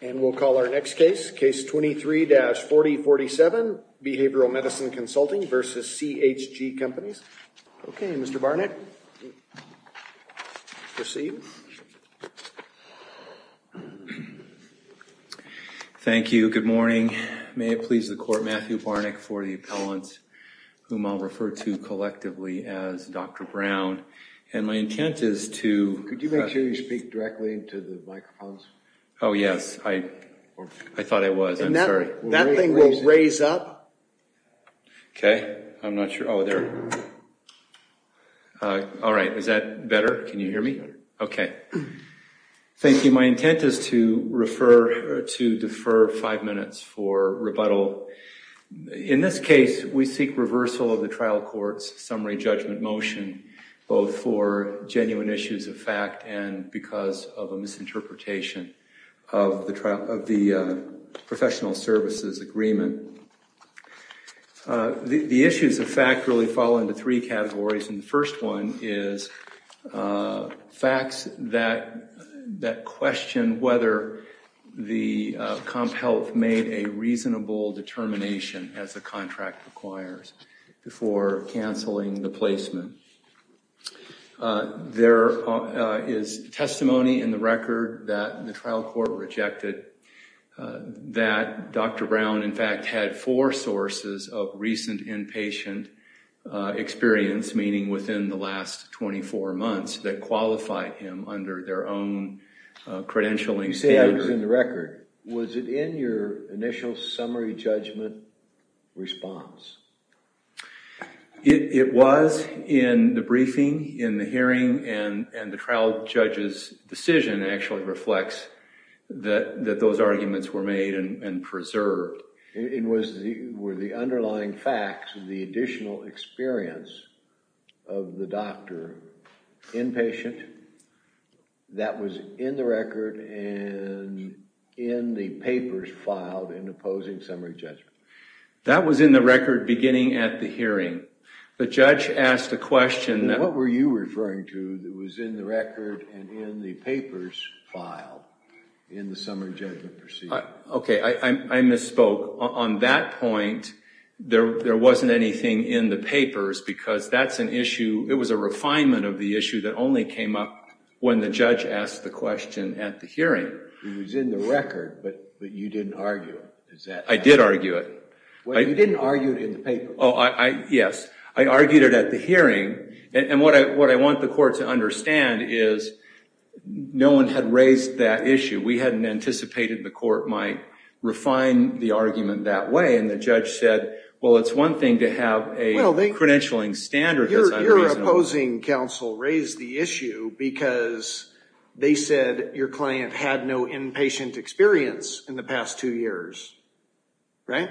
And we'll call our next case, Case 23-4047, Behavioral Medicine Consulting v. CHG Companies. Okay, Mr. Barnack, proceed. Thank you, good morning. May it please the Court, Matthew Barnack for the appellant, whom I'll refer to collectively as Dr. Brown. And my intent is to- Oh, yes, I thought I was. I'm sorry. That thing will raise up. Okay, I'm not sure. Oh, there. All right, is that better? Can you hear me? Okay. Thank you. My intent is to defer five minutes for rebuttal. In this case, we seek reversal of the trial court's summary judgment motion, both for genuine issues of fact and because of a misinterpretation of the professional services agreement. The issues of fact really fall into three categories, and the first one is facts that question whether the comp health made a reasonable determination as the contract requires before canceling the placement. There is testimony in the record that the trial court rejected that Dr. Brown, in fact, had four sources of recent inpatient experience, meaning within the last 24 months, that qualified him under their own credentialing standards. That was in the record. Was it in your initial summary judgment response? It was in the briefing, in the hearing, and the trial judge's decision actually reflects that those arguments were made and preserved. Were the underlying facts the additional experience of the doctor inpatient? That was in the record and in the papers filed in opposing summary judgment. That was in the record beginning at the hearing. The judge asked a question that... What were you referring to that was in the record and in the papers filed in the summary judgment proceeding? Okay, I misspoke. On that point, there wasn't anything in the papers because that's an issue, it was a refinement of the issue that only came up when the judge asked the question at the hearing. It was in the record, but you didn't argue it. I did argue it. You didn't argue it in the paper. Yes, I argued it at the hearing, and what I want the court to understand is no one had raised that issue. We hadn't anticipated the court might refine the argument that way, and the judge said, well, it's one thing to have a credentialing standard that's unreasonable. Your opposing counsel raised the issue because they said your client had no inpatient experience in the past two years, right?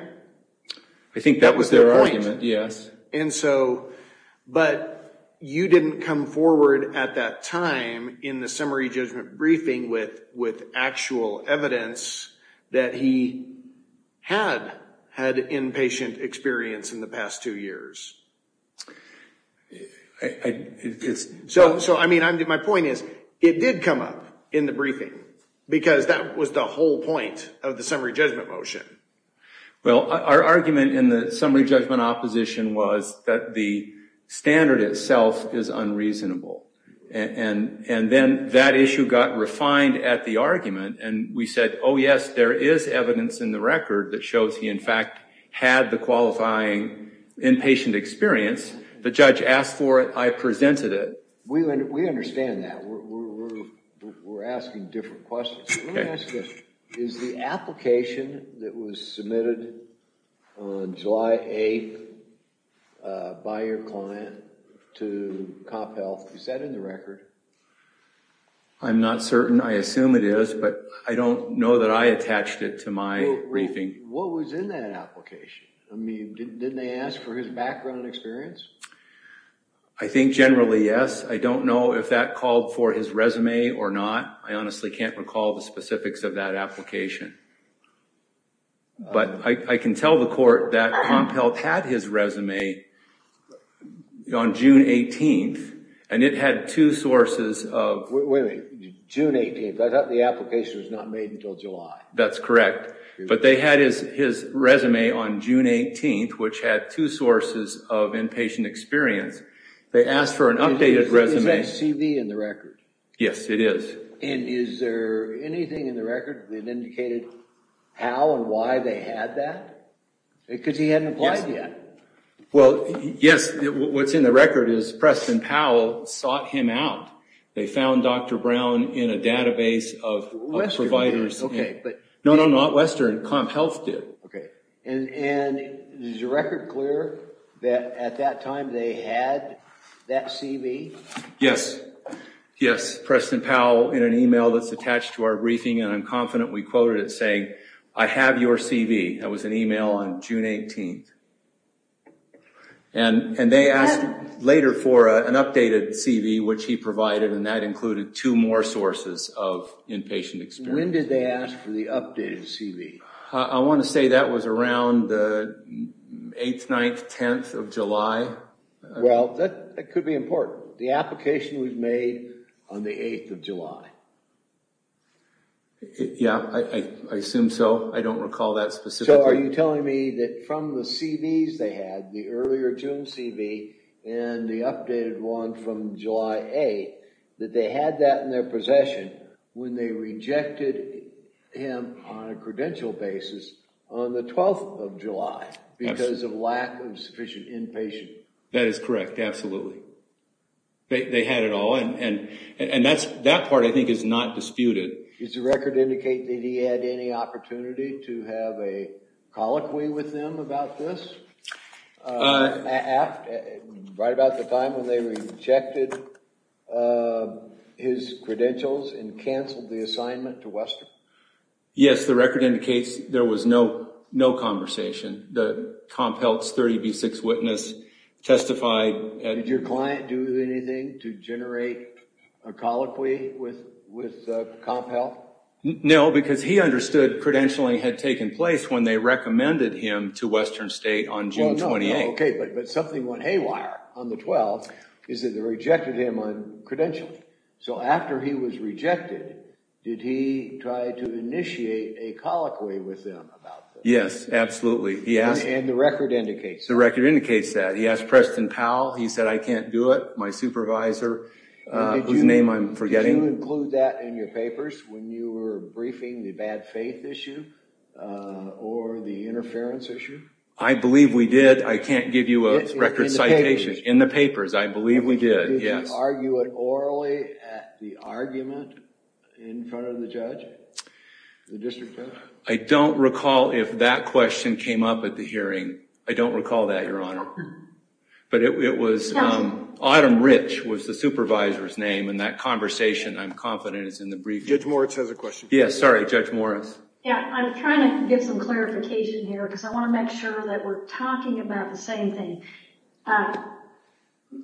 I think that was their argument, yes. But you didn't come forward at that time in the summary judgment briefing with actual evidence that he had had inpatient experience in the past two years. So, I mean, my point is, it did come up in the briefing because that was the whole point of the summary judgment motion. Well, our argument in the summary judgment opposition was that the standard itself is unreasonable, and then that issue got refined at the argument, and we said, oh, yes, there is evidence in the record that shows he, in fact, had the qualifying inpatient experience. The judge asked for it. I presented it. We understand that. We're asking different questions. Let me ask you, is the application that was submitted on July 8th by your client to CompHealth, is that in the record? I'm not certain. I assume it is, but I don't know that I attached it to my briefing. What was in that application? I mean, didn't they ask for his background and experience? I think generally, yes. I don't know if that called for his resume or not. I honestly can't recall the specifics of that application, but I can tell the court that CompHealth had his resume on June 18th, and it had two sources of... Wait a minute. June 18th. I thought the application was not made until July. That's correct, but they had his resume on June 18th, which had two sources of inpatient experience. They asked for an updated resume. Is that CV in the record? Yes, it is. And is there anything in the record that indicated how and why they had that? Because he hadn't applied yet. Well, yes, what's in the record is Preston Powell sought him out. They found Dr. Brown in a database of providers. Western did. No, no, not Western. CompHealth did. Okay. And is the record clear that at that time they had that CV? Yes. Yes, Preston Powell in an e-mail that's attached to our briefing, and I'm confident we quoted it saying, I have your CV. That was an e-mail on June 18th. And they asked later for an updated CV, which he provided, and that included two more sources of inpatient experience. When did they ask for the updated CV? I want to say that was around the 8th, 9th, 10th of July. Well, that could be important. The application was made on the 8th of July. Yeah, I assume so. I don't recall that specifically. So are you telling me that from the CVs they had, the earlier June CV, and the updated one from July 8th, that they had that in their possession when they rejected him on a credential basis on the 12th of July because of lack of sufficient inpatient? That is correct, absolutely. They had it all, and that part, I think, is not disputed. Does the record indicate that he had any opportunity to have a colloquy with them about this right about the time when they rejected his credentials and canceled the assignment to Western? Yes, the record indicates there was no conversation. The Comp Health's 30B6 witness testified. Did your client do anything to generate a colloquy with Comp Health? No, because he understood credentialing had taken place when they recommended him to Western State on June 28th. Okay, but something went haywire on the 12th, is that they rejected him on credentialing. So after he was rejected, did he try to initiate a colloquy with them about this? Yes, absolutely. And the record indicates that? The record indicates that. He asked Preston Powell. He said, I can't do it. My supervisor, whose name I'm forgetting. Did you include that in your papers when you were briefing the bad faith issue or the interference issue? I believe we did. I can't give you a record citation. In the papers, I believe we did, yes. Did you argue it orally at the argument in front of the judge, the district judge? I don't recall if that question came up at the hearing. I don't recall that, Your Honor. But it was Autumn Rich was the supervisor's name, and that conversation, I'm confident, is in the briefing. Judge Moritz has a question. Yes, sorry, Judge Moritz. Yeah, I'm trying to get some clarification here, because I want to make sure that we're talking about the same thing.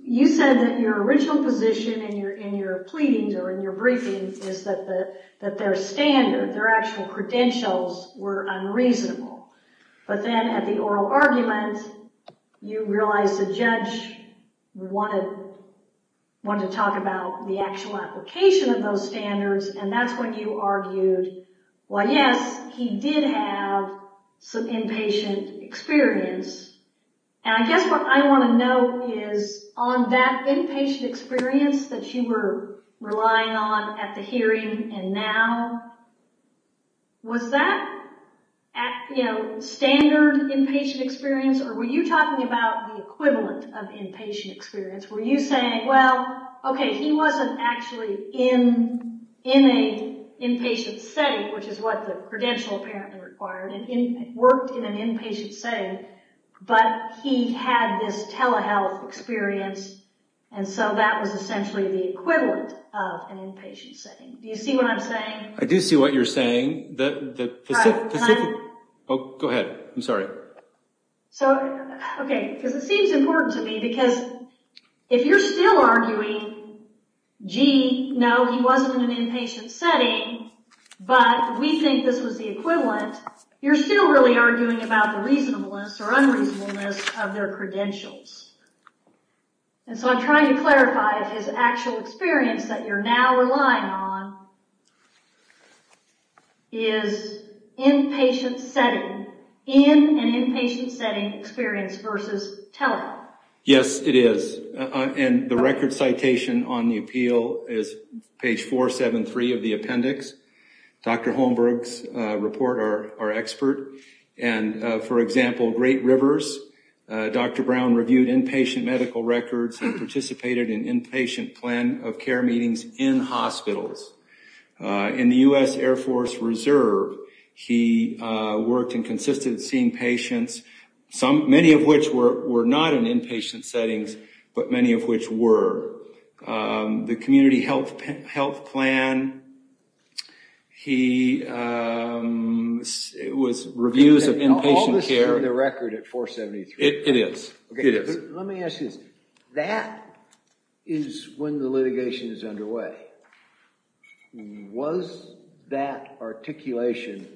You said that your original position in your pleadings or in your briefings is that their standard, their actual credentials were unreasonable. But then at the oral argument, you realized the judge wanted to talk about the actual application of those standards, and that's when you argued, well, yes, he did have some inpatient experience. And I guess what I want to know is on that inpatient experience that you were relying on at the hearing and now, was that standard inpatient experience, or were you talking about the equivalent of inpatient experience? Were you saying, well, okay, he wasn't actually in a inpatient setting, which is what the credential apparently required, and he worked in an inpatient setting, but he had this telehealth experience, and so that was essentially the equivalent of an inpatient setting. Do you see what I'm saying? I do see what you're saying. Go ahead. I'm sorry. Okay, because it seems important to me, because if you're still arguing, gee, no, he wasn't in an inpatient setting, but we think this was the equivalent, you're still really arguing about the reasonableness or unreasonableness of their credentials. And so I'm trying to clarify if his actual experience that you're now relying on is inpatient setting, in an inpatient setting experience versus telehealth. Yes, it is. And the record citation on the appeal is page 473 of the appendix. Dr. Holmberg's report, our expert, and, for example, Great Rivers, Dr. Brown reviewed inpatient medical records and participated in inpatient plan of care meetings in hospitals. In the U.S. Air Force Reserve, he worked and consisted of seeing patients, many of which were not in inpatient settings, but many of which were. The community health plan, he was reviews of inpatient care. Is there a record at 473? It is. Let me ask you this. That is when the litigation is underway. Was that articulation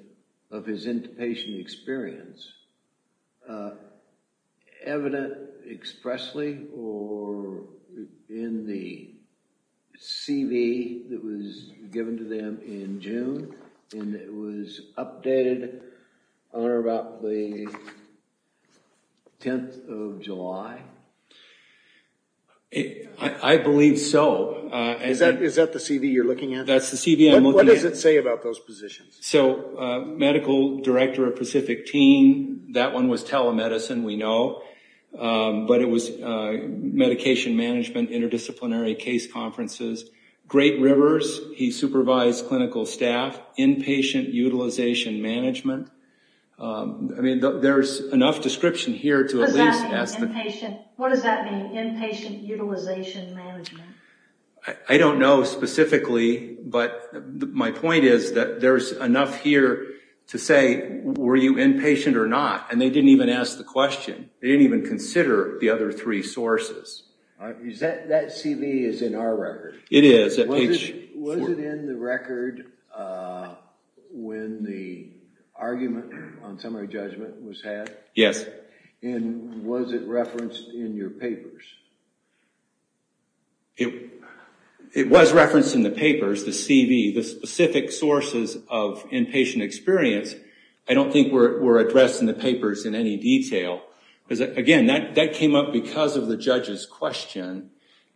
of his inpatient experience evident expressly and it was updated on or about the 10th of July? I believe so. Is that the CV you're looking at? That's the CV I'm looking at. What does it say about those positions? So medical director of Pacific Team, that one was telemedicine, we know, but it was medication management, interdisciplinary case conferences. Great Rivers, he supervised clinical staff, inpatient utilization management. I mean, there's enough description here to at least ask the question. What does that mean, inpatient utilization management? I don't know specifically, but my point is that there's enough here to say, were you inpatient or not? And they didn't even ask the question. They didn't even consider the other three sources. That CV is in our record. It is. Was it in the record when the argument on summary judgment was had? Yes. And was it referenced in your papers? It was referenced in the papers, the CV, the specific sources of inpatient experience. I don't think were addressed in the papers in any detail. Because, again, that came up because of the judge's question.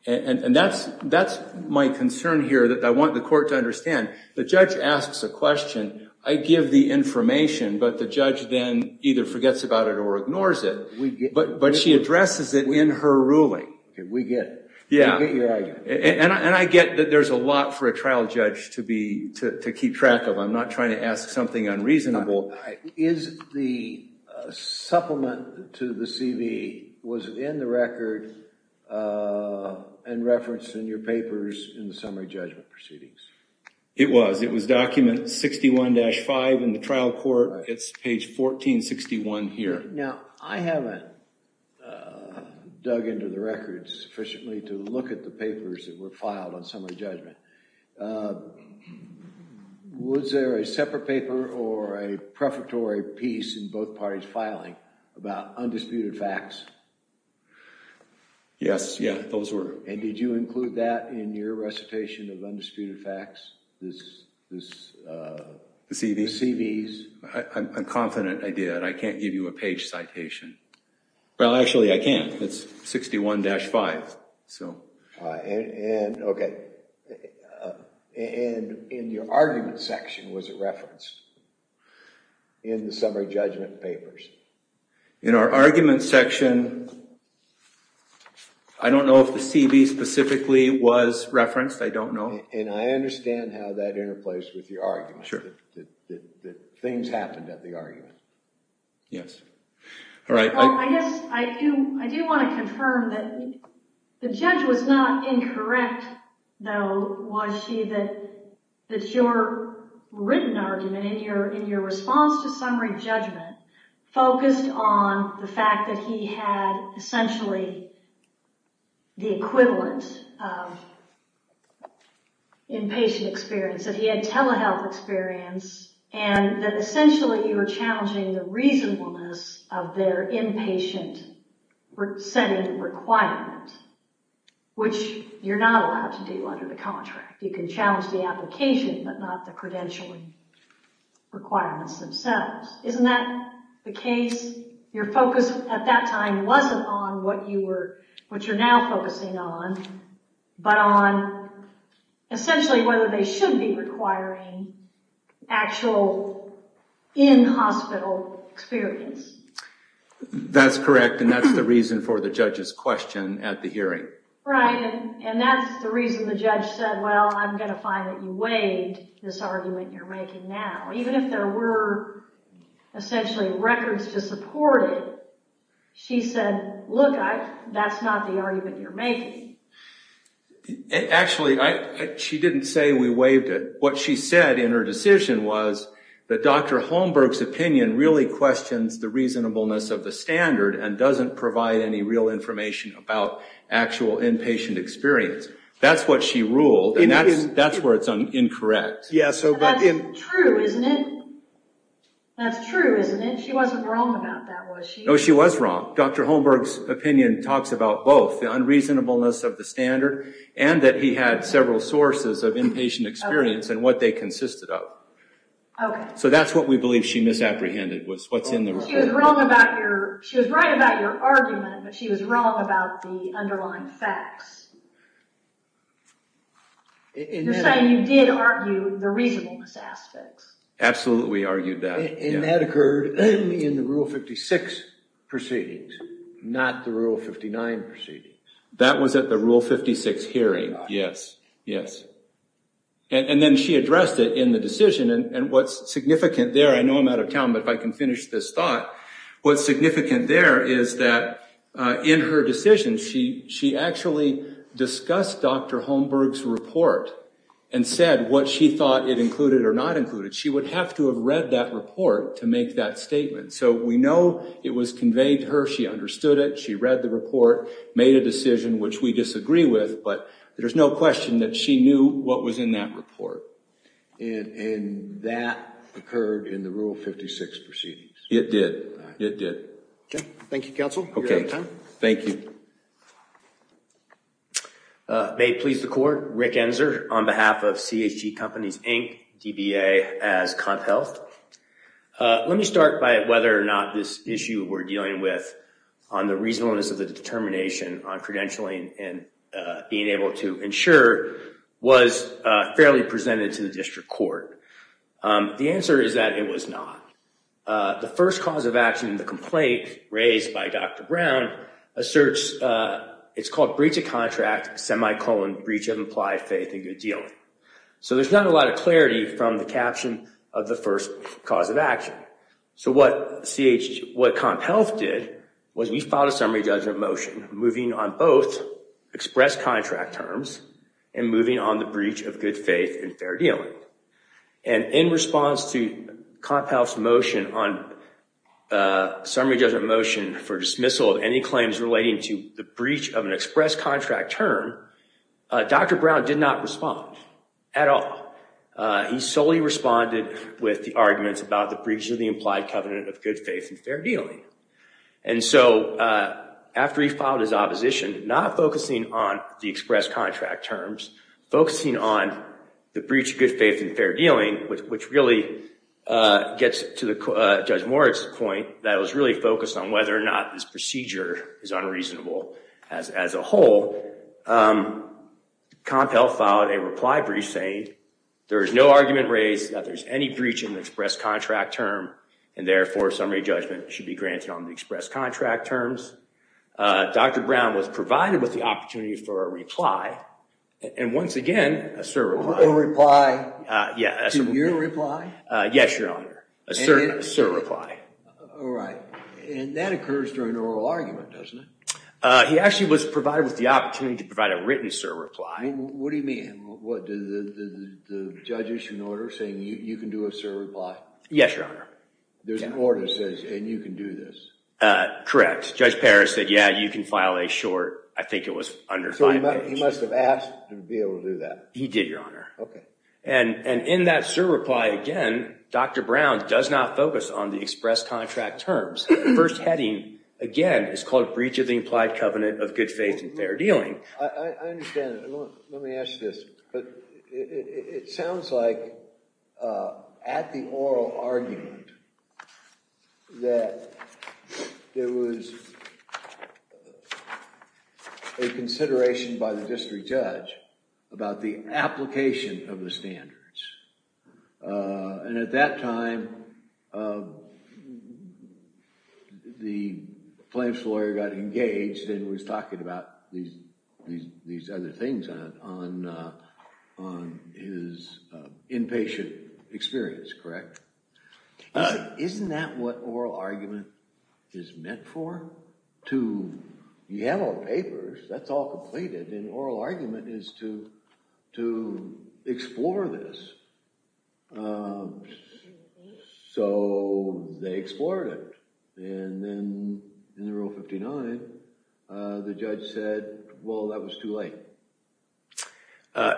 And that's my concern here that I want the court to understand. The judge asks a question. I give the information, but the judge then either forgets about it or ignores it. But she addresses it in her ruling. We get it. We get your idea. And I get that there's a lot for a trial judge to keep track of. I'm not trying to ask something unreasonable. Is the supplement to the CV was in the record and referenced in your papers in the summary judgment proceedings? It was. It was document 61-5 in the trial court. It's page 1461 here. Now, I haven't dug into the records sufficiently to look at the papers that were filed on summary judgment. Was there a separate paper or a prefatory piece in both parties filing about undisputed facts? Yes. Yeah, those were. And did you include that in your recitation of undisputed facts, the CVs? I'm confident I did. I can't give you a page citation. Well, actually, I can. It's 61-5. Okay. And in your argument section, was it referenced in the summary judgment papers? In our argument section, I don't know if the CV specifically was referenced. I don't know. And I understand how that interplays with your argument, that things happened at the argument. Yes. All right. Well, I guess I do want to confirm that the judge was not incorrect, though, was she, that your written argument in your response to summary judgment focused on the fact that he had essentially the equivalent of inpatient experience, that he had telehealth experience, and that essentially you were challenging the reasonableness of their inpatient setting requirement, which you're not allowed to do under the contract. You can challenge the application, but not the credentialing requirements themselves. Isn't that the case? Your focus at that time wasn't on what you're now focusing on, but on essentially whether they should be requiring actual in-hospital experience. That's correct, and that's the reason for the judge's question at the hearing. Right. And that's the reason the judge said, well, I'm going to find that you weighed this argument you're making now. Even if there were essentially records to support it, she said, look, that's not the argument you're making. Actually, she didn't say we weighed it. What she said in her decision was that Dr. Holmberg's opinion really questions the reasonableness of the standard and doesn't provide any real information about actual inpatient experience. That's what she ruled, and that's where it's incorrect. That's true, isn't it? That's true, isn't it? She wasn't wrong about that, was she? No, she was wrong. Dr. Holmberg's opinion talks about both the unreasonableness of the standard and that he had several sources of inpatient experience and what they consisted of. Okay. So that's what we believe she misapprehended was what's in the report. She was right about your argument, but she was wrong about the underlying facts. You're saying you did argue the reasonableness aspects. Absolutely argued that, yeah. And that occurred in the Rule 56 proceedings, not the Rule 59 proceedings. That was at the Rule 56 hearing, yes, yes. And then she addressed it in the decision, and what's significant there, I know I'm out of town, but if I can finish this thought, what's significant there is that in her decision, she actually discussed Dr. Holmberg's report and said what she thought it included or not included. She would have to have read that report to make that statement. So we know it was conveyed to her, she understood it, she read the report, made a decision which we disagree with, but there's no question that she knew what was in that report. And that occurred in the Rule 56 proceedings. It did, it did. Okay, thank you, Counsel. You're out of time. Thank you. May it please the Court, Rick Enzer on behalf of CHG Companies, Inc., DBA as CompHealth. Let me start by whether or not this issue we're dealing with on the reasonableness of the determination on credentialing and being able to ensure was fairly presented to the district court. The answer is that it was not. The first cause of action in the complaint raised by Dr. Brown asserts it's called breach of contract, semicolon breach of implied faith in good dealing. So there's not a lot of clarity from the caption of the first cause of action. So what CompHealth did was we filed a summary judgment motion moving on both express contract terms and moving on the breach of good faith in fair dealing. And in response to CompHealth's motion on summary judgment motion for dismissal of any claims relating to the breach of an express contract term, Dr. Brown did not respond at all. He solely responded with the arguments about the breach of the implied covenant of good faith in fair dealing. And so after he filed his opposition, not focusing on the express contract terms, focusing on the breach of good faith in fair dealing, which really gets to Judge Moritz's point that it was really focused on whether or not this procedure is unreasonable as a whole, CompHealth filed a reply brief saying there is no argument raised that there's any breach in the express contract term and therefore summary judgment should be granted on the express contract terms. Dr. Brown was provided with the opportunity for a reply and once again a surreply. A reply? Yes. To your reply? Yes, Your Honor. A surreply. All right. And that occurs during oral argument, doesn't it? He actually was provided with the opportunity to provide a written surreply. What do you mean? What, did the judge issue an order saying you can do a surreply? Yes, Your Honor. There's an order that says and you can do this? Correct. Judge Parris said, yeah, you can file a short, I think it was under five pages. He must have asked to be able to do that. He did, Your Honor. Okay. And in that surreply, again, Dr. Brown does not focus on the express contract terms. The first heading, again, is called breach of the implied covenant of good faith and fair dealing. I understand. Let me ask you this. But it sounds like at the oral argument that there was a consideration by the district judge about the application of the standards. And at that time, the plaintiff's lawyer got engaged and was talking about these other things on his inpatient experience, correct? Isn't that what oral argument is meant for? You have all the papers. That's all completed. And oral argument is to explore this. So they explored it. And then in the Rule 59, the judge said, well, that was too late.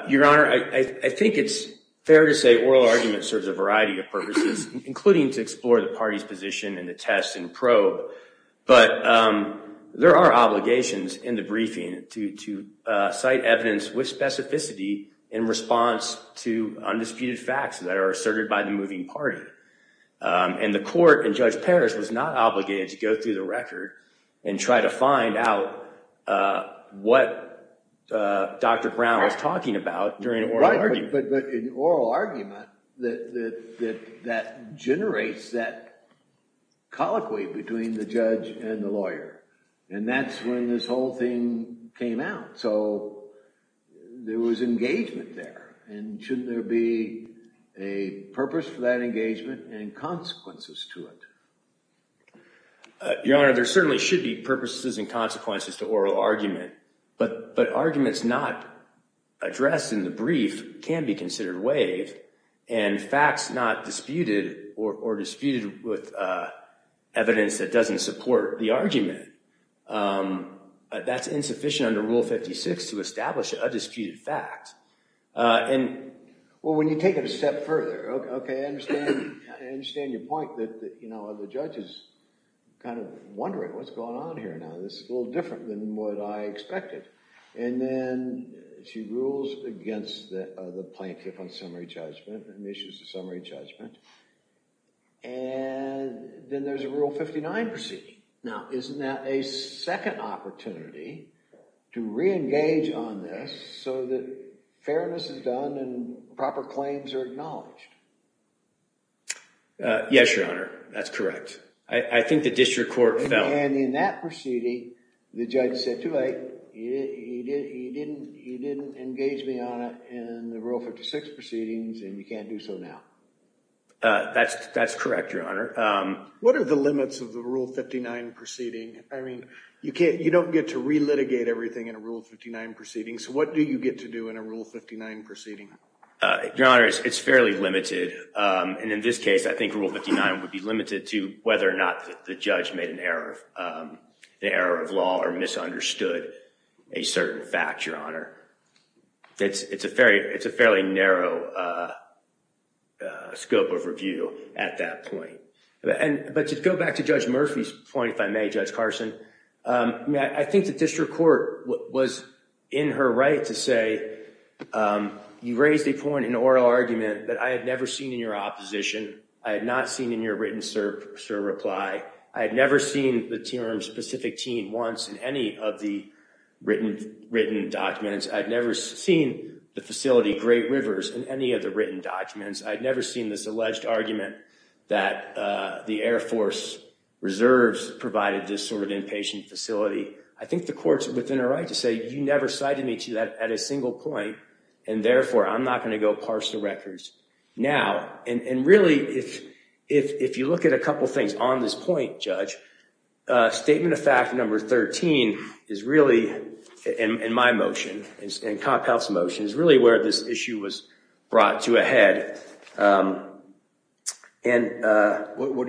Your Honor, I think it's fair to say oral argument serves a variety of purposes, including to explore the party's position and the test and probe. But there are obligations in the briefing to cite evidence with specificity in response to undisputed facts that are asserted by the moving party. And the court and Judge Parrish was not obligated to go through the record and try to find out what Dr. Brown was talking about during an oral argument. But in oral argument, that generates that colloquy between the judge and the lawyer. And that's when this whole thing came out. So there was engagement there. And shouldn't there be a purpose for that engagement and consequences to it? Your Honor, there certainly should be purposes and consequences to oral argument. But arguments not addressed in the brief can be considered waived. And facts not disputed or disputed with evidence that doesn't support the argument, that's insufficient under Rule 56 to establish a disputed fact. Well, when you take it a step further, OK, I understand your point that the judge is kind of wondering what's going on here. Now, this is a little different than what I expected. And then she rules against the plaintiff on summary judgment and issues a summary judgment. And then there's a Rule 59 proceeding. Now, isn't that a second opportunity to reengage on this so that fairness is done and proper claims are acknowledged? Yes, Your Honor, that's correct. I think the district court felt— And in that proceeding, the judge said, too late. He didn't engage me on it in the Rule 56 proceedings. And you can't do so now. That's correct, Your Honor. What are the limits of the Rule 59 proceeding? I mean, you don't get to relitigate everything in a Rule 59 proceeding. So what do you get to do in a Rule 59 proceeding? Your Honor, it's fairly limited. And in this case, I think Rule 59 would be limited to whether or not the judge made an error of law or misunderstood a certain fact, Your Honor. It's a fairly narrow scope of review at that point. But to go back to Judge Murphy's point, if I may, Judge Carson, I think the district court was in her right to say, you raised a point, an oral argument that I had never seen in your opposition. I had not seen in your written reply. I had never seen the term specific teen once in any of the written documents. I had never seen the facility Great Rivers in any of the written documents. I had never seen this alleged argument that the Air Force Reserves provided this sort of inpatient facility. I think the court's within her right to say, you never cited me to that at a single point. And therefore, I'm not going to go parse the records now. And really, if you look at a couple of things on this point, Judge, Statement of Fact Number 13 is really, in my motion, in Comp Health's motion, is really where this issue was brought to a head. What are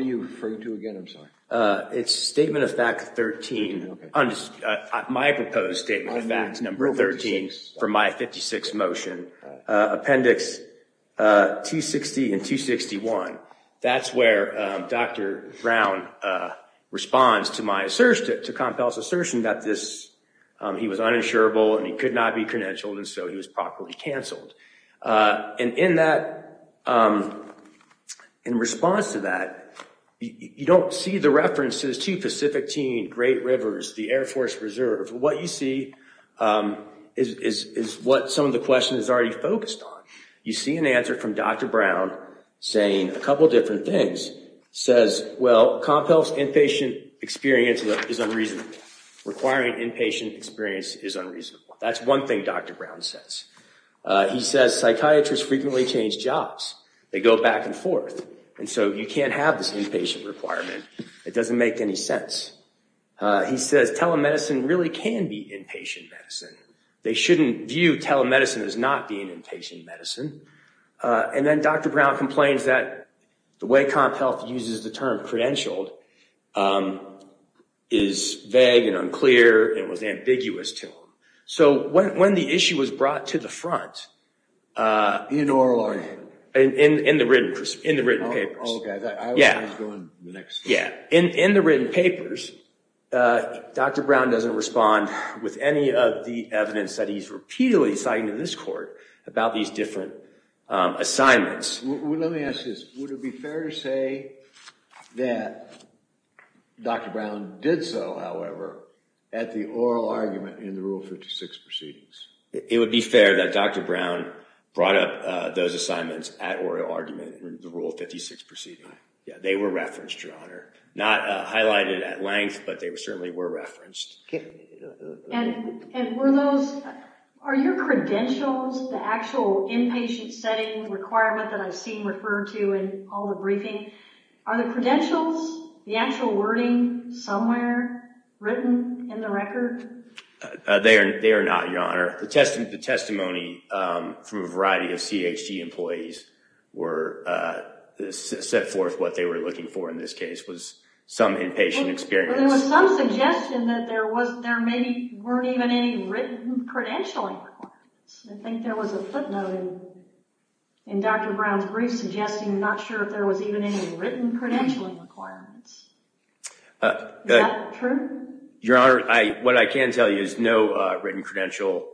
you referring to again? It's Statement of Fact 13. My proposed Statement of Fact Number 13 for my 56 motion. Appendix 260 and 261. That's where Dr. Brown responds to my assertion, to Comp Health's assertion that this, he was uninsurable and he could not be credentialed, and so he was properly canceled. And in that, in response to that, you don't see the references to Pacific Team, Great Rivers, the Air Force Reserve. What you see is what some of the question is already focused on. You see an answer from Dr. Brown saying a couple of different things. Says, well, Comp Health's inpatient experience is unreasonable. Requiring inpatient experience is unreasonable. That's one thing Dr. Brown says. He says psychiatrists frequently change jobs. They go back and forth. And so you can't have this inpatient requirement. It doesn't make any sense. He says telemedicine really can be inpatient medicine. They shouldn't view telemedicine as not being inpatient medicine. And then Dr. Brown complains that the way Comp Health uses the term credentialed is vague and unclear and was ambiguous to him. So when the issue was brought to the front in the written papers, Dr. Brown doesn't respond with any of the evidence that he's repeatedly cited in this court about these different assignments. Let me ask this. Would it be fair to say that Dr. Brown did so, however, at the oral argument in the Rule 56 proceedings? It would be fair that Dr. Brown brought up those assignments at oral argument in the Rule 56 proceedings. They were referenced, Your Honor. Not highlighted at length, but they certainly were referenced. And were those – are your credentials, the actual inpatient setting requirement that I've seen referred to in all the briefing, are the credentials, the actual wording, somewhere written in the record? They are not, Your Honor. The testimony from a variety of CHG employees were – set forth what they were looking for in this case was some inpatient experience. But there was some suggestion that there maybe weren't even any written credentialing requirements. I think there was a footnote in Dr. Brown's brief suggesting not sure if there was even any written credentialing requirements. Is that true? Your Honor, what I can tell you is no written credential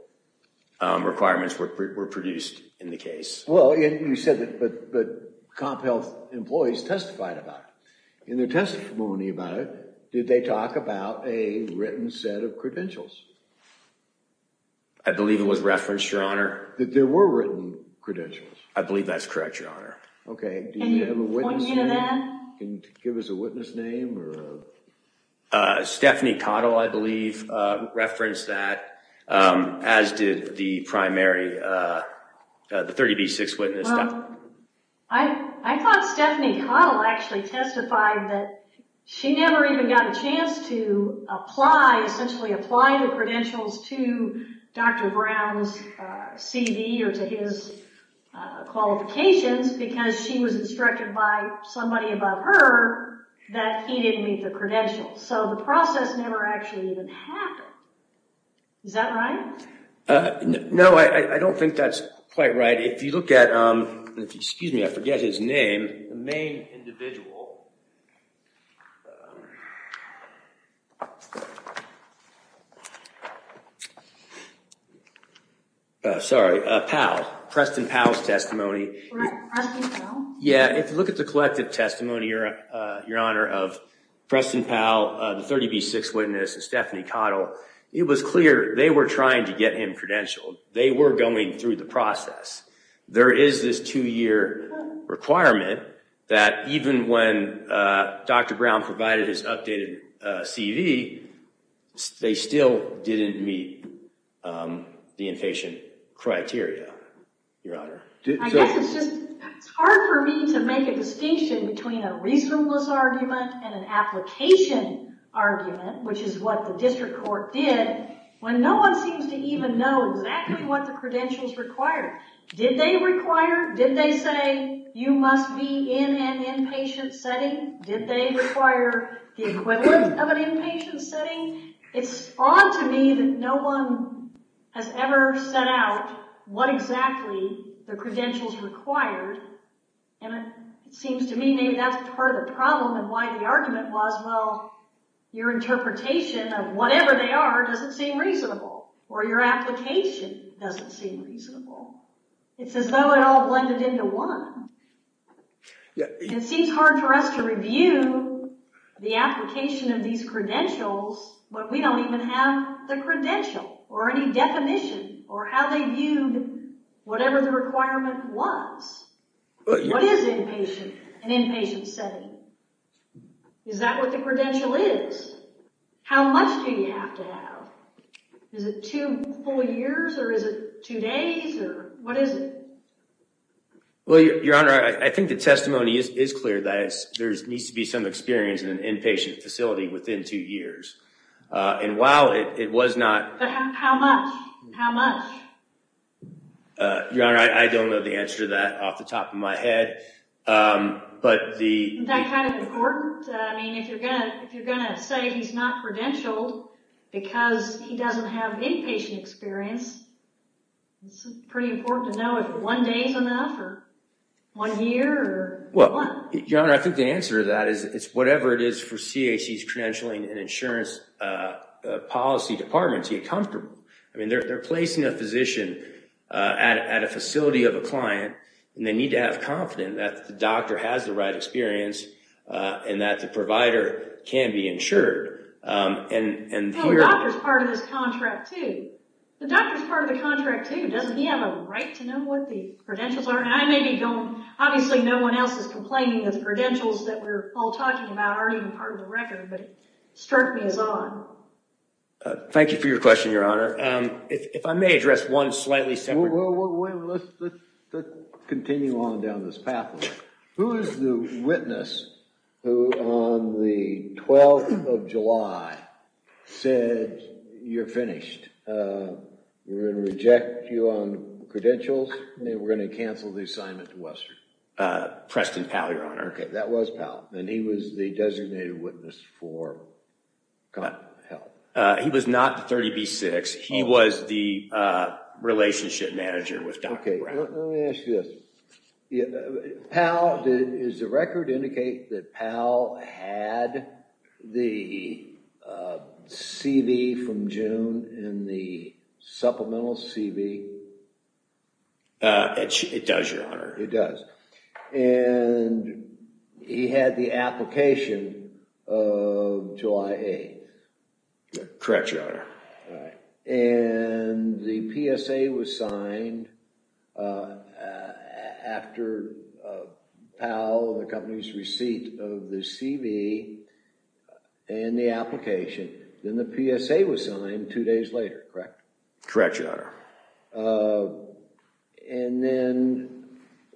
requirements were produced in the case. Well, you said that comp health employees testified about it. In their testimony about it, did they talk about a written set of credentials? I believe it was referenced, Your Honor. That there were written credentials? I believe that's correct, Your Honor. Okay. Do you have a witness? Can you give us a witness name? Stephanie Cottle, I believe, referenced that, as did the primary – the 30B6 witness. I thought Stephanie Cottle actually testified that she never even got a chance to apply – essentially apply the credentials to Dr. Brown's CV or to his qualifications because she was instructed by somebody above her that he didn't meet the credentials. So the process never actually even happened. Is that right? No, I don't think that's quite right. If you look at – excuse me, I forget his name. The main individual – sorry, Powell, Preston Powell's testimony. Preston Powell? Yeah, if you look at the collective testimony, Your Honor, of Preston Powell, the 30B6 witness, and Stephanie Cottle, it was clear they were trying to get him credentialed. They were going through the process. There is this two-year requirement that even when Dr. Brown provided his updated CV, they still didn't meet the inpatient criteria, Your Honor. I guess it's just – it's hard for me to make a distinction between a reasonableness argument and an application argument, which is what the district court did, when no one seems to even know exactly what the credentials required. Did they require – did they say you must be in an inpatient setting? Did they require the equivalent of an inpatient setting? It's odd to me that no one has ever set out what exactly the credentials required, and it seems to me maybe that's part of the problem and why the argument was, well, your interpretation of whatever they are doesn't seem reasonable, or your application doesn't seem reasonable. It's as though it all blended into one. It seems hard for us to review the application of these credentials, but we don't even have the credential or any definition or how they viewed whatever the requirement was. What is inpatient, an inpatient setting? Is that what the credential is? How much do you have to have? Is it two full years or is it two days or what is it? Well, Your Honor, I think the testimony is clear that there needs to be some experience in an inpatient facility within two years, and while it was not – But how much? How much? Your Honor, I don't know the answer to that off the top of my head, but the – Isn't that kind of important? I mean, if you're going to say he's not credentialed because he doesn't have inpatient experience, it's pretty important to know if one day is enough or one year or what. Your Honor, I think the answer to that is whatever it is for CAC's credentialing and insurance policy department to get comfortable. I mean, they're placing a physician at a facility of a client, and they need to have confidence that the doctor has the right experience and that the provider can be insured. No, the doctor's part of this contract, too. The doctor's part of the contract, too. Doesn't he have a right to know what the credentials are? And I maybe don't. Obviously, no one else is complaining that the credentials that we're all talking about aren't even part of the record, but it struck me as odd. Thank you for your question, Your Honor. If I may address one slightly separate – Wait, wait, wait. Let's continue on down this pathway. Who is the witness who, on the 12th of July, said, you're finished, we're going to reject you on credentials, and we're going to cancel the assignment to Western? Preston Powell, Your Honor. Okay, that was Powell. And he was the designated witness for what? He was not the 30B6. He was the relationship manager with Dr. Brown. Okay, let me ask you this. Is the record indicate that Powell had the CV from June in the supplemental CV? It does, Your Honor. It does. And he had the application of July 8th. Correct, Your Honor. And the PSA was signed after Powell and the company's receipt of the CV and the application. Then the PSA was signed two days later, correct? Correct, Your Honor. And then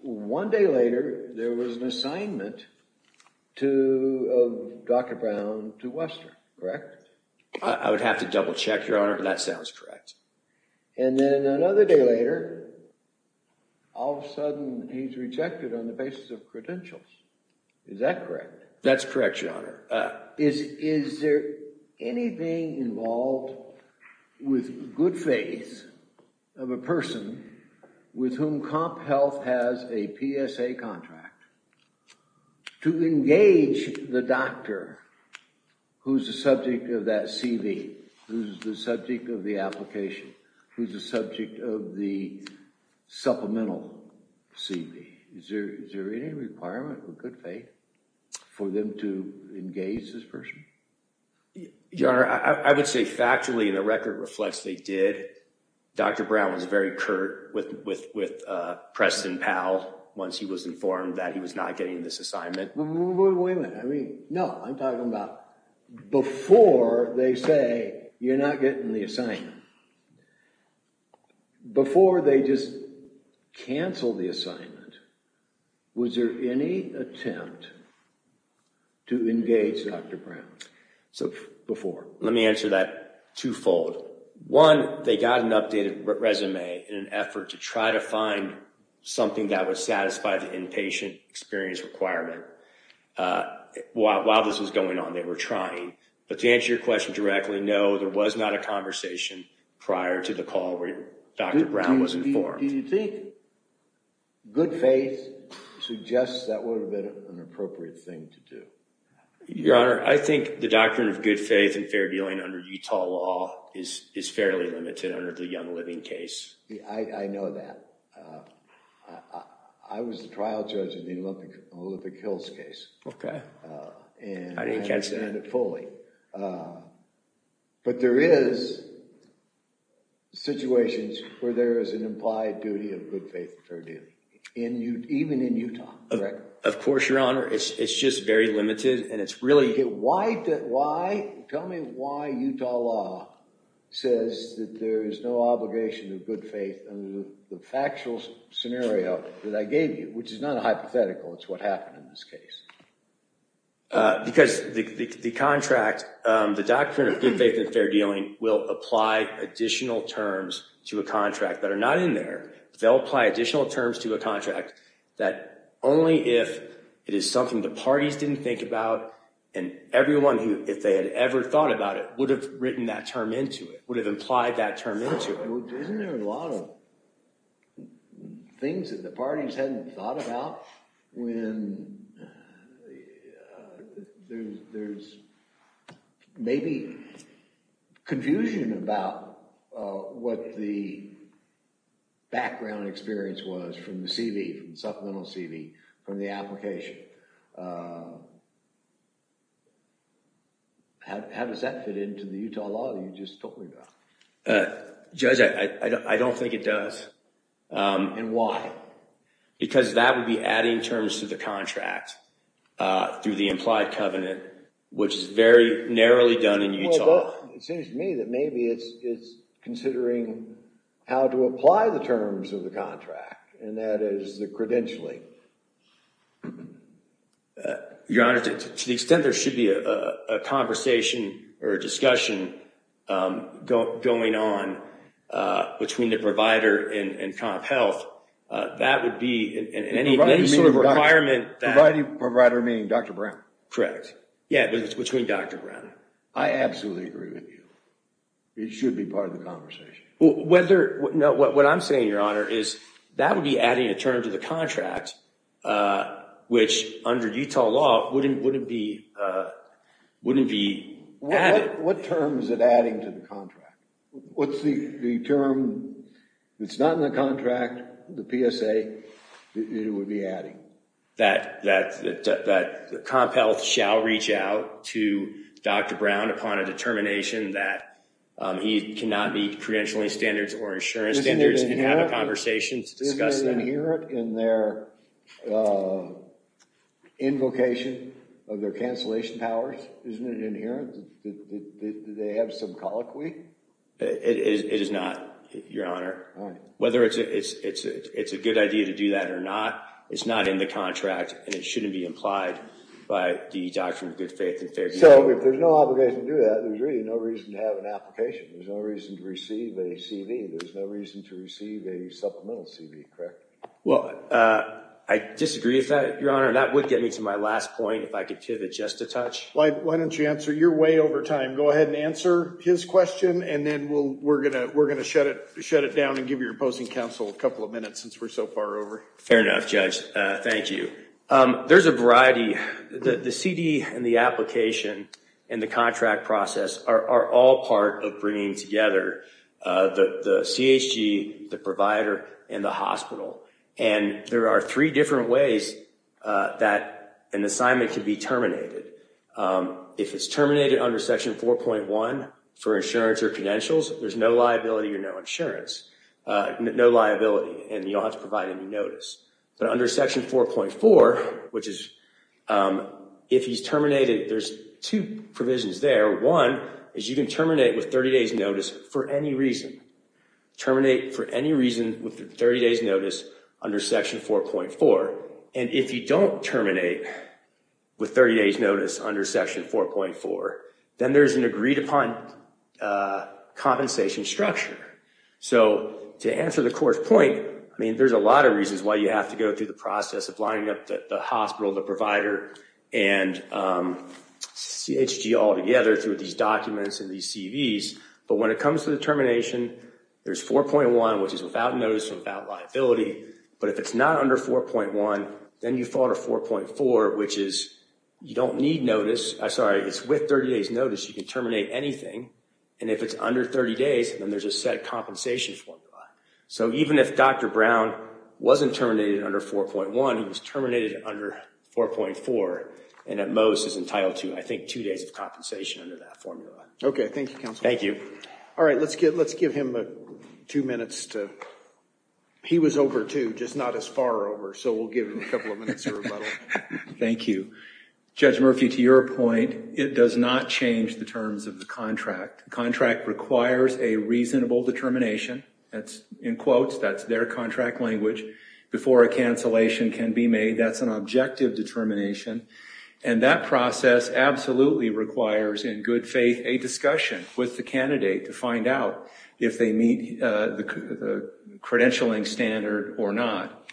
one day later, there was an assignment of Dr. Brown to Western, correct? I would have to double check, Your Honor, but that sounds correct. And then another day later, all of a sudden, he's rejected on the basis of credentials. Is that correct? That's correct, Your Honor. Is there anything involved with good faith of a person with whom Comp Health has a PSA contract to engage the doctor who's the subject of that CV, who's the subject of the application, who's the subject of the supplemental CV? Is there any requirement of good faith for them to engage this person? Your Honor, I would say factually the record reflects they did. Dr. Brown was very curt with Preston Powell once he was informed that he was not getting this assignment. Wait a minute. I mean, no, I'm talking about before they say you're not getting the assignment. Before they just canceled the assignment, was there any attempt to engage Dr. Brown before? Let me answer that twofold. One, they got an updated resume in an effort to try to find something that would satisfy the inpatient experience requirement. While this was going on, they were trying. But to answer your question directly, no, there was not a conversation prior to the call where Dr. Brown was informed. Do you think good faith suggests that would have been an appropriate thing to do? Your Honor, I think the doctrine of good faith and fair dealing under Utah law is fairly limited under the Young Living case. I know that. I was the trial judge in the Olympic Hills case. Okay. And I understand it fully. But there is situations where there is an implied duty of good faith and fair dealing, even in Utah, correct? Of course, Your Honor. It's just very limited. Why? Tell me why Utah law says that there is no obligation of good faith under the factual scenario that I gave you, which is not hypothetical. It's what happened in this case. Because the contract, the doctrine of good faith and fair dealing, will apply additional terms to a contract that are not in there. They'll apply additional terms to a contract that only if it is something the parties didn't think about and everyone, if they had ever thought about it, would have written that term into it, would have implied that term into it. Isn't there a lot of things that the parties hadn't thought about when there's maybe confusion about what the background experience was from the CV, from the supplemental CV, from the application? How does that fit into the Utah law that you just told me about? Judge, I don't think it does. And why? Because that would be adding terms to the contract through the implied covenant, which is very narrowly done in Utah. Well, it seems to me that maybe it's considering how to apply the terms of the contract, and that is the credentialing. Your Honor, to the extent there should be a conversation or a discussion going on between the provider and CompHealth, that would be in any sort of requirement. Providing provider meaning Dr. Brown? Correct. Yeah, between Dr. Brown. I absolutely agree with you. It should be part of the conversation. What I'm saying, Your Honor, is that would be adding a term to the contract, which under Utah law wouldn't be added. What term is it adding to the contract? What's the term that's not in the contract, the PSA, that it would be adding? That CompHealth shall reach out to Dr. Brown upon a determination that he cannot meet credentialing standards or insurance standards and have a conversation to discuss that. Isn't it inherent in their invocation of their cancellation powers? Isn't it inherent that they have some colloquy? It is not, Your Honor. Whether it's a good idea to do that or not, it's not in the contract, and it shouldn't be implied by the Doctrine of Good Faith and Fair Deal. So if there's no obligation to do that, there's really no reason to have an application. There's no reason to receive a CV. There's no reason to receive a supplemental CV, correct? Well, I disagree with that, Your Honor. That would get me to my last point, if I could pivot just a touch. Why don't you answer? You're way over time. Go ahead and answer his question, and then we're going to shut it down and give your opposing counsel a couple of minutes since we're so far over. Fair enough, Judge. Thank you. There's a variety. The CV and the application and the contract process are all part of bringing together the CHG, the provider, and the hospital. And there are three different ways that an assignment can be terminated. If it's terminated under Section 4.1 for insurance or credentials, there's no liability or no insurance, no liability, and you don't have to provide any notice. But under Section 4.4, which is if he's terminated, there's two provisions there. One is you can terminate with 30 days' notice for any reason. Terminate for any reason with 30 days' notice under Section 4.4. And if you don't terminate with 30 days' notice under Section 4.4, then there's an agreed-upon compensation structure. So to answer the court's point, I mean, there's a lot of reasons why you have to go through the process of lining up the hospital, the provider, and CHG all together through these documents and these CVs. But when it comes to the termination, there's 4.1, which is without notice, without liability. But if it's not under 4.1, then you fall to 4.4, which is you don't need notice. Sorry, it's with 30 days' notice, you can terminate anything. And if it's under 30 days, then there's a set compensation formula. So even if Dr. Brown wasn't terminated under 4.1, he was terminated under 4.4, and at most is entitled to, I think, two days of compensation under that formula. Okay, thank you, counsel. Thank you. All right, let's give him two minutes to – he was over, too, just not as far over, so we'll give him a couple of minutes of rebuttal. Thank you. Judge Murphy, to your point, it does not change the terms of the contract. The contract requires a reasonable determination – that's in quotes, that's their contract language – before a cancellation can be made. That's an objective determination, and that process absolutely requires, in good faith, a discussion with the candidate to find out if they meet the credentialing standard or not.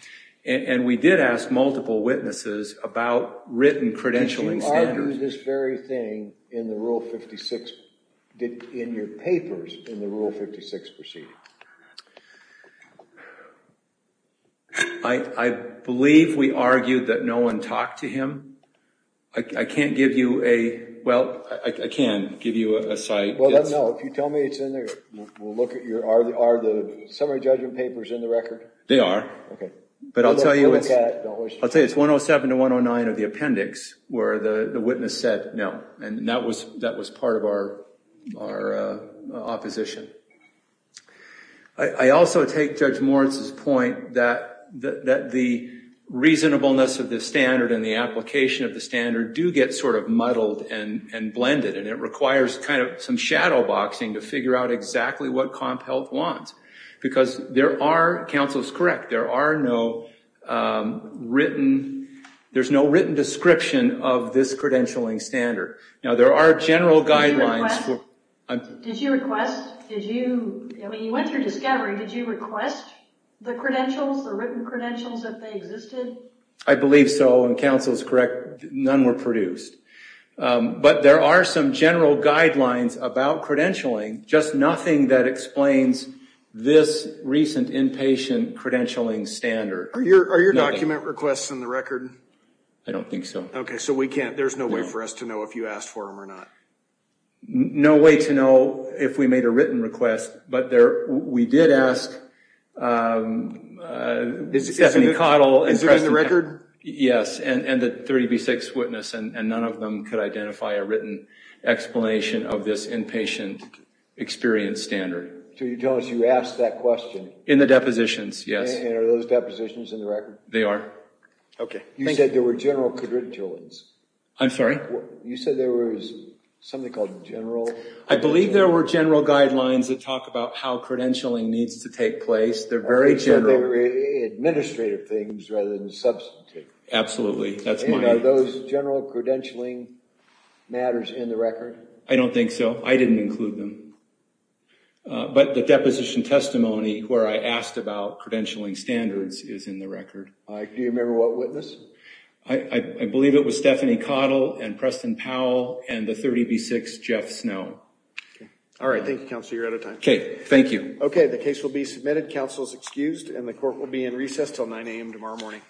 And we did ask multiple witnesses about written credentialing standards. Did you argue this very thing in the Rule 56 – in your papers in the Rule 56 proceeding? I believe we argued that no one talked to him. I can't give you a – well, I can give you a cite. Well, no, if you tell me it's in there, we'll look at your – are the summary judgment papers in the record? They are. Okay. But I'll tell you it's – I'll tell you it's 107 to 109 of the appendix where the witness said no, and that was part of our opposition. I also take Judge Moritz's point that the reasonableness of the standard and the application of the standard do get sort of muddled and blended, and it requires kind of some shadowboxing to figure out exactly what Comp Health wants. Because there are – counsel is correct – there are no written – there's no written description of this credentialing standard. Now, there are general guidelines for – Did you request – did you – I mean, you went through discovery. Did you request the credentials, the written credentials, that they existed? I believe so, and counsel is correct. None were produced. But there are some general guidelines about credentialing, just nothing that explains this recent inpatient credentialing standard. Are your document requests in the record? I don't think so. Okay, so we can't – there's no way for us to know if you asked for them or not. No way to know if we made a written request, but there – we did ask Stephanie Cottle and – Is it in the record? Yes, and the 30B6 witness, and none of them could identify a written explanation of this inpatient experience standard. So you're telling us you asked that question? In the depositions, yes. And are those depositions in the record? They are. Okay. You said there were general credentials. I'm sorry? You said there was something called general – I believe there were general guidelines that talk about how credentialing needs to take place. They're very general. They were administrative things rather than substantive. Absolutely. That's my – And are those general credentialing matters in the record? I don't think so. I didn't include them. But the deposition testimony where I asked about credentialing standards is in the record. Do you remember what witness? I believe it was Stephanie Cottle and Preston Powell and the 30B6 Jeff Snow. Okay. All right. Thank you, Counselor. You're out of time. Okay, thank you. Okay, the case will be submitted. Counsel is excused. And the court will be in recess until 9 a.m. tomorrow morning.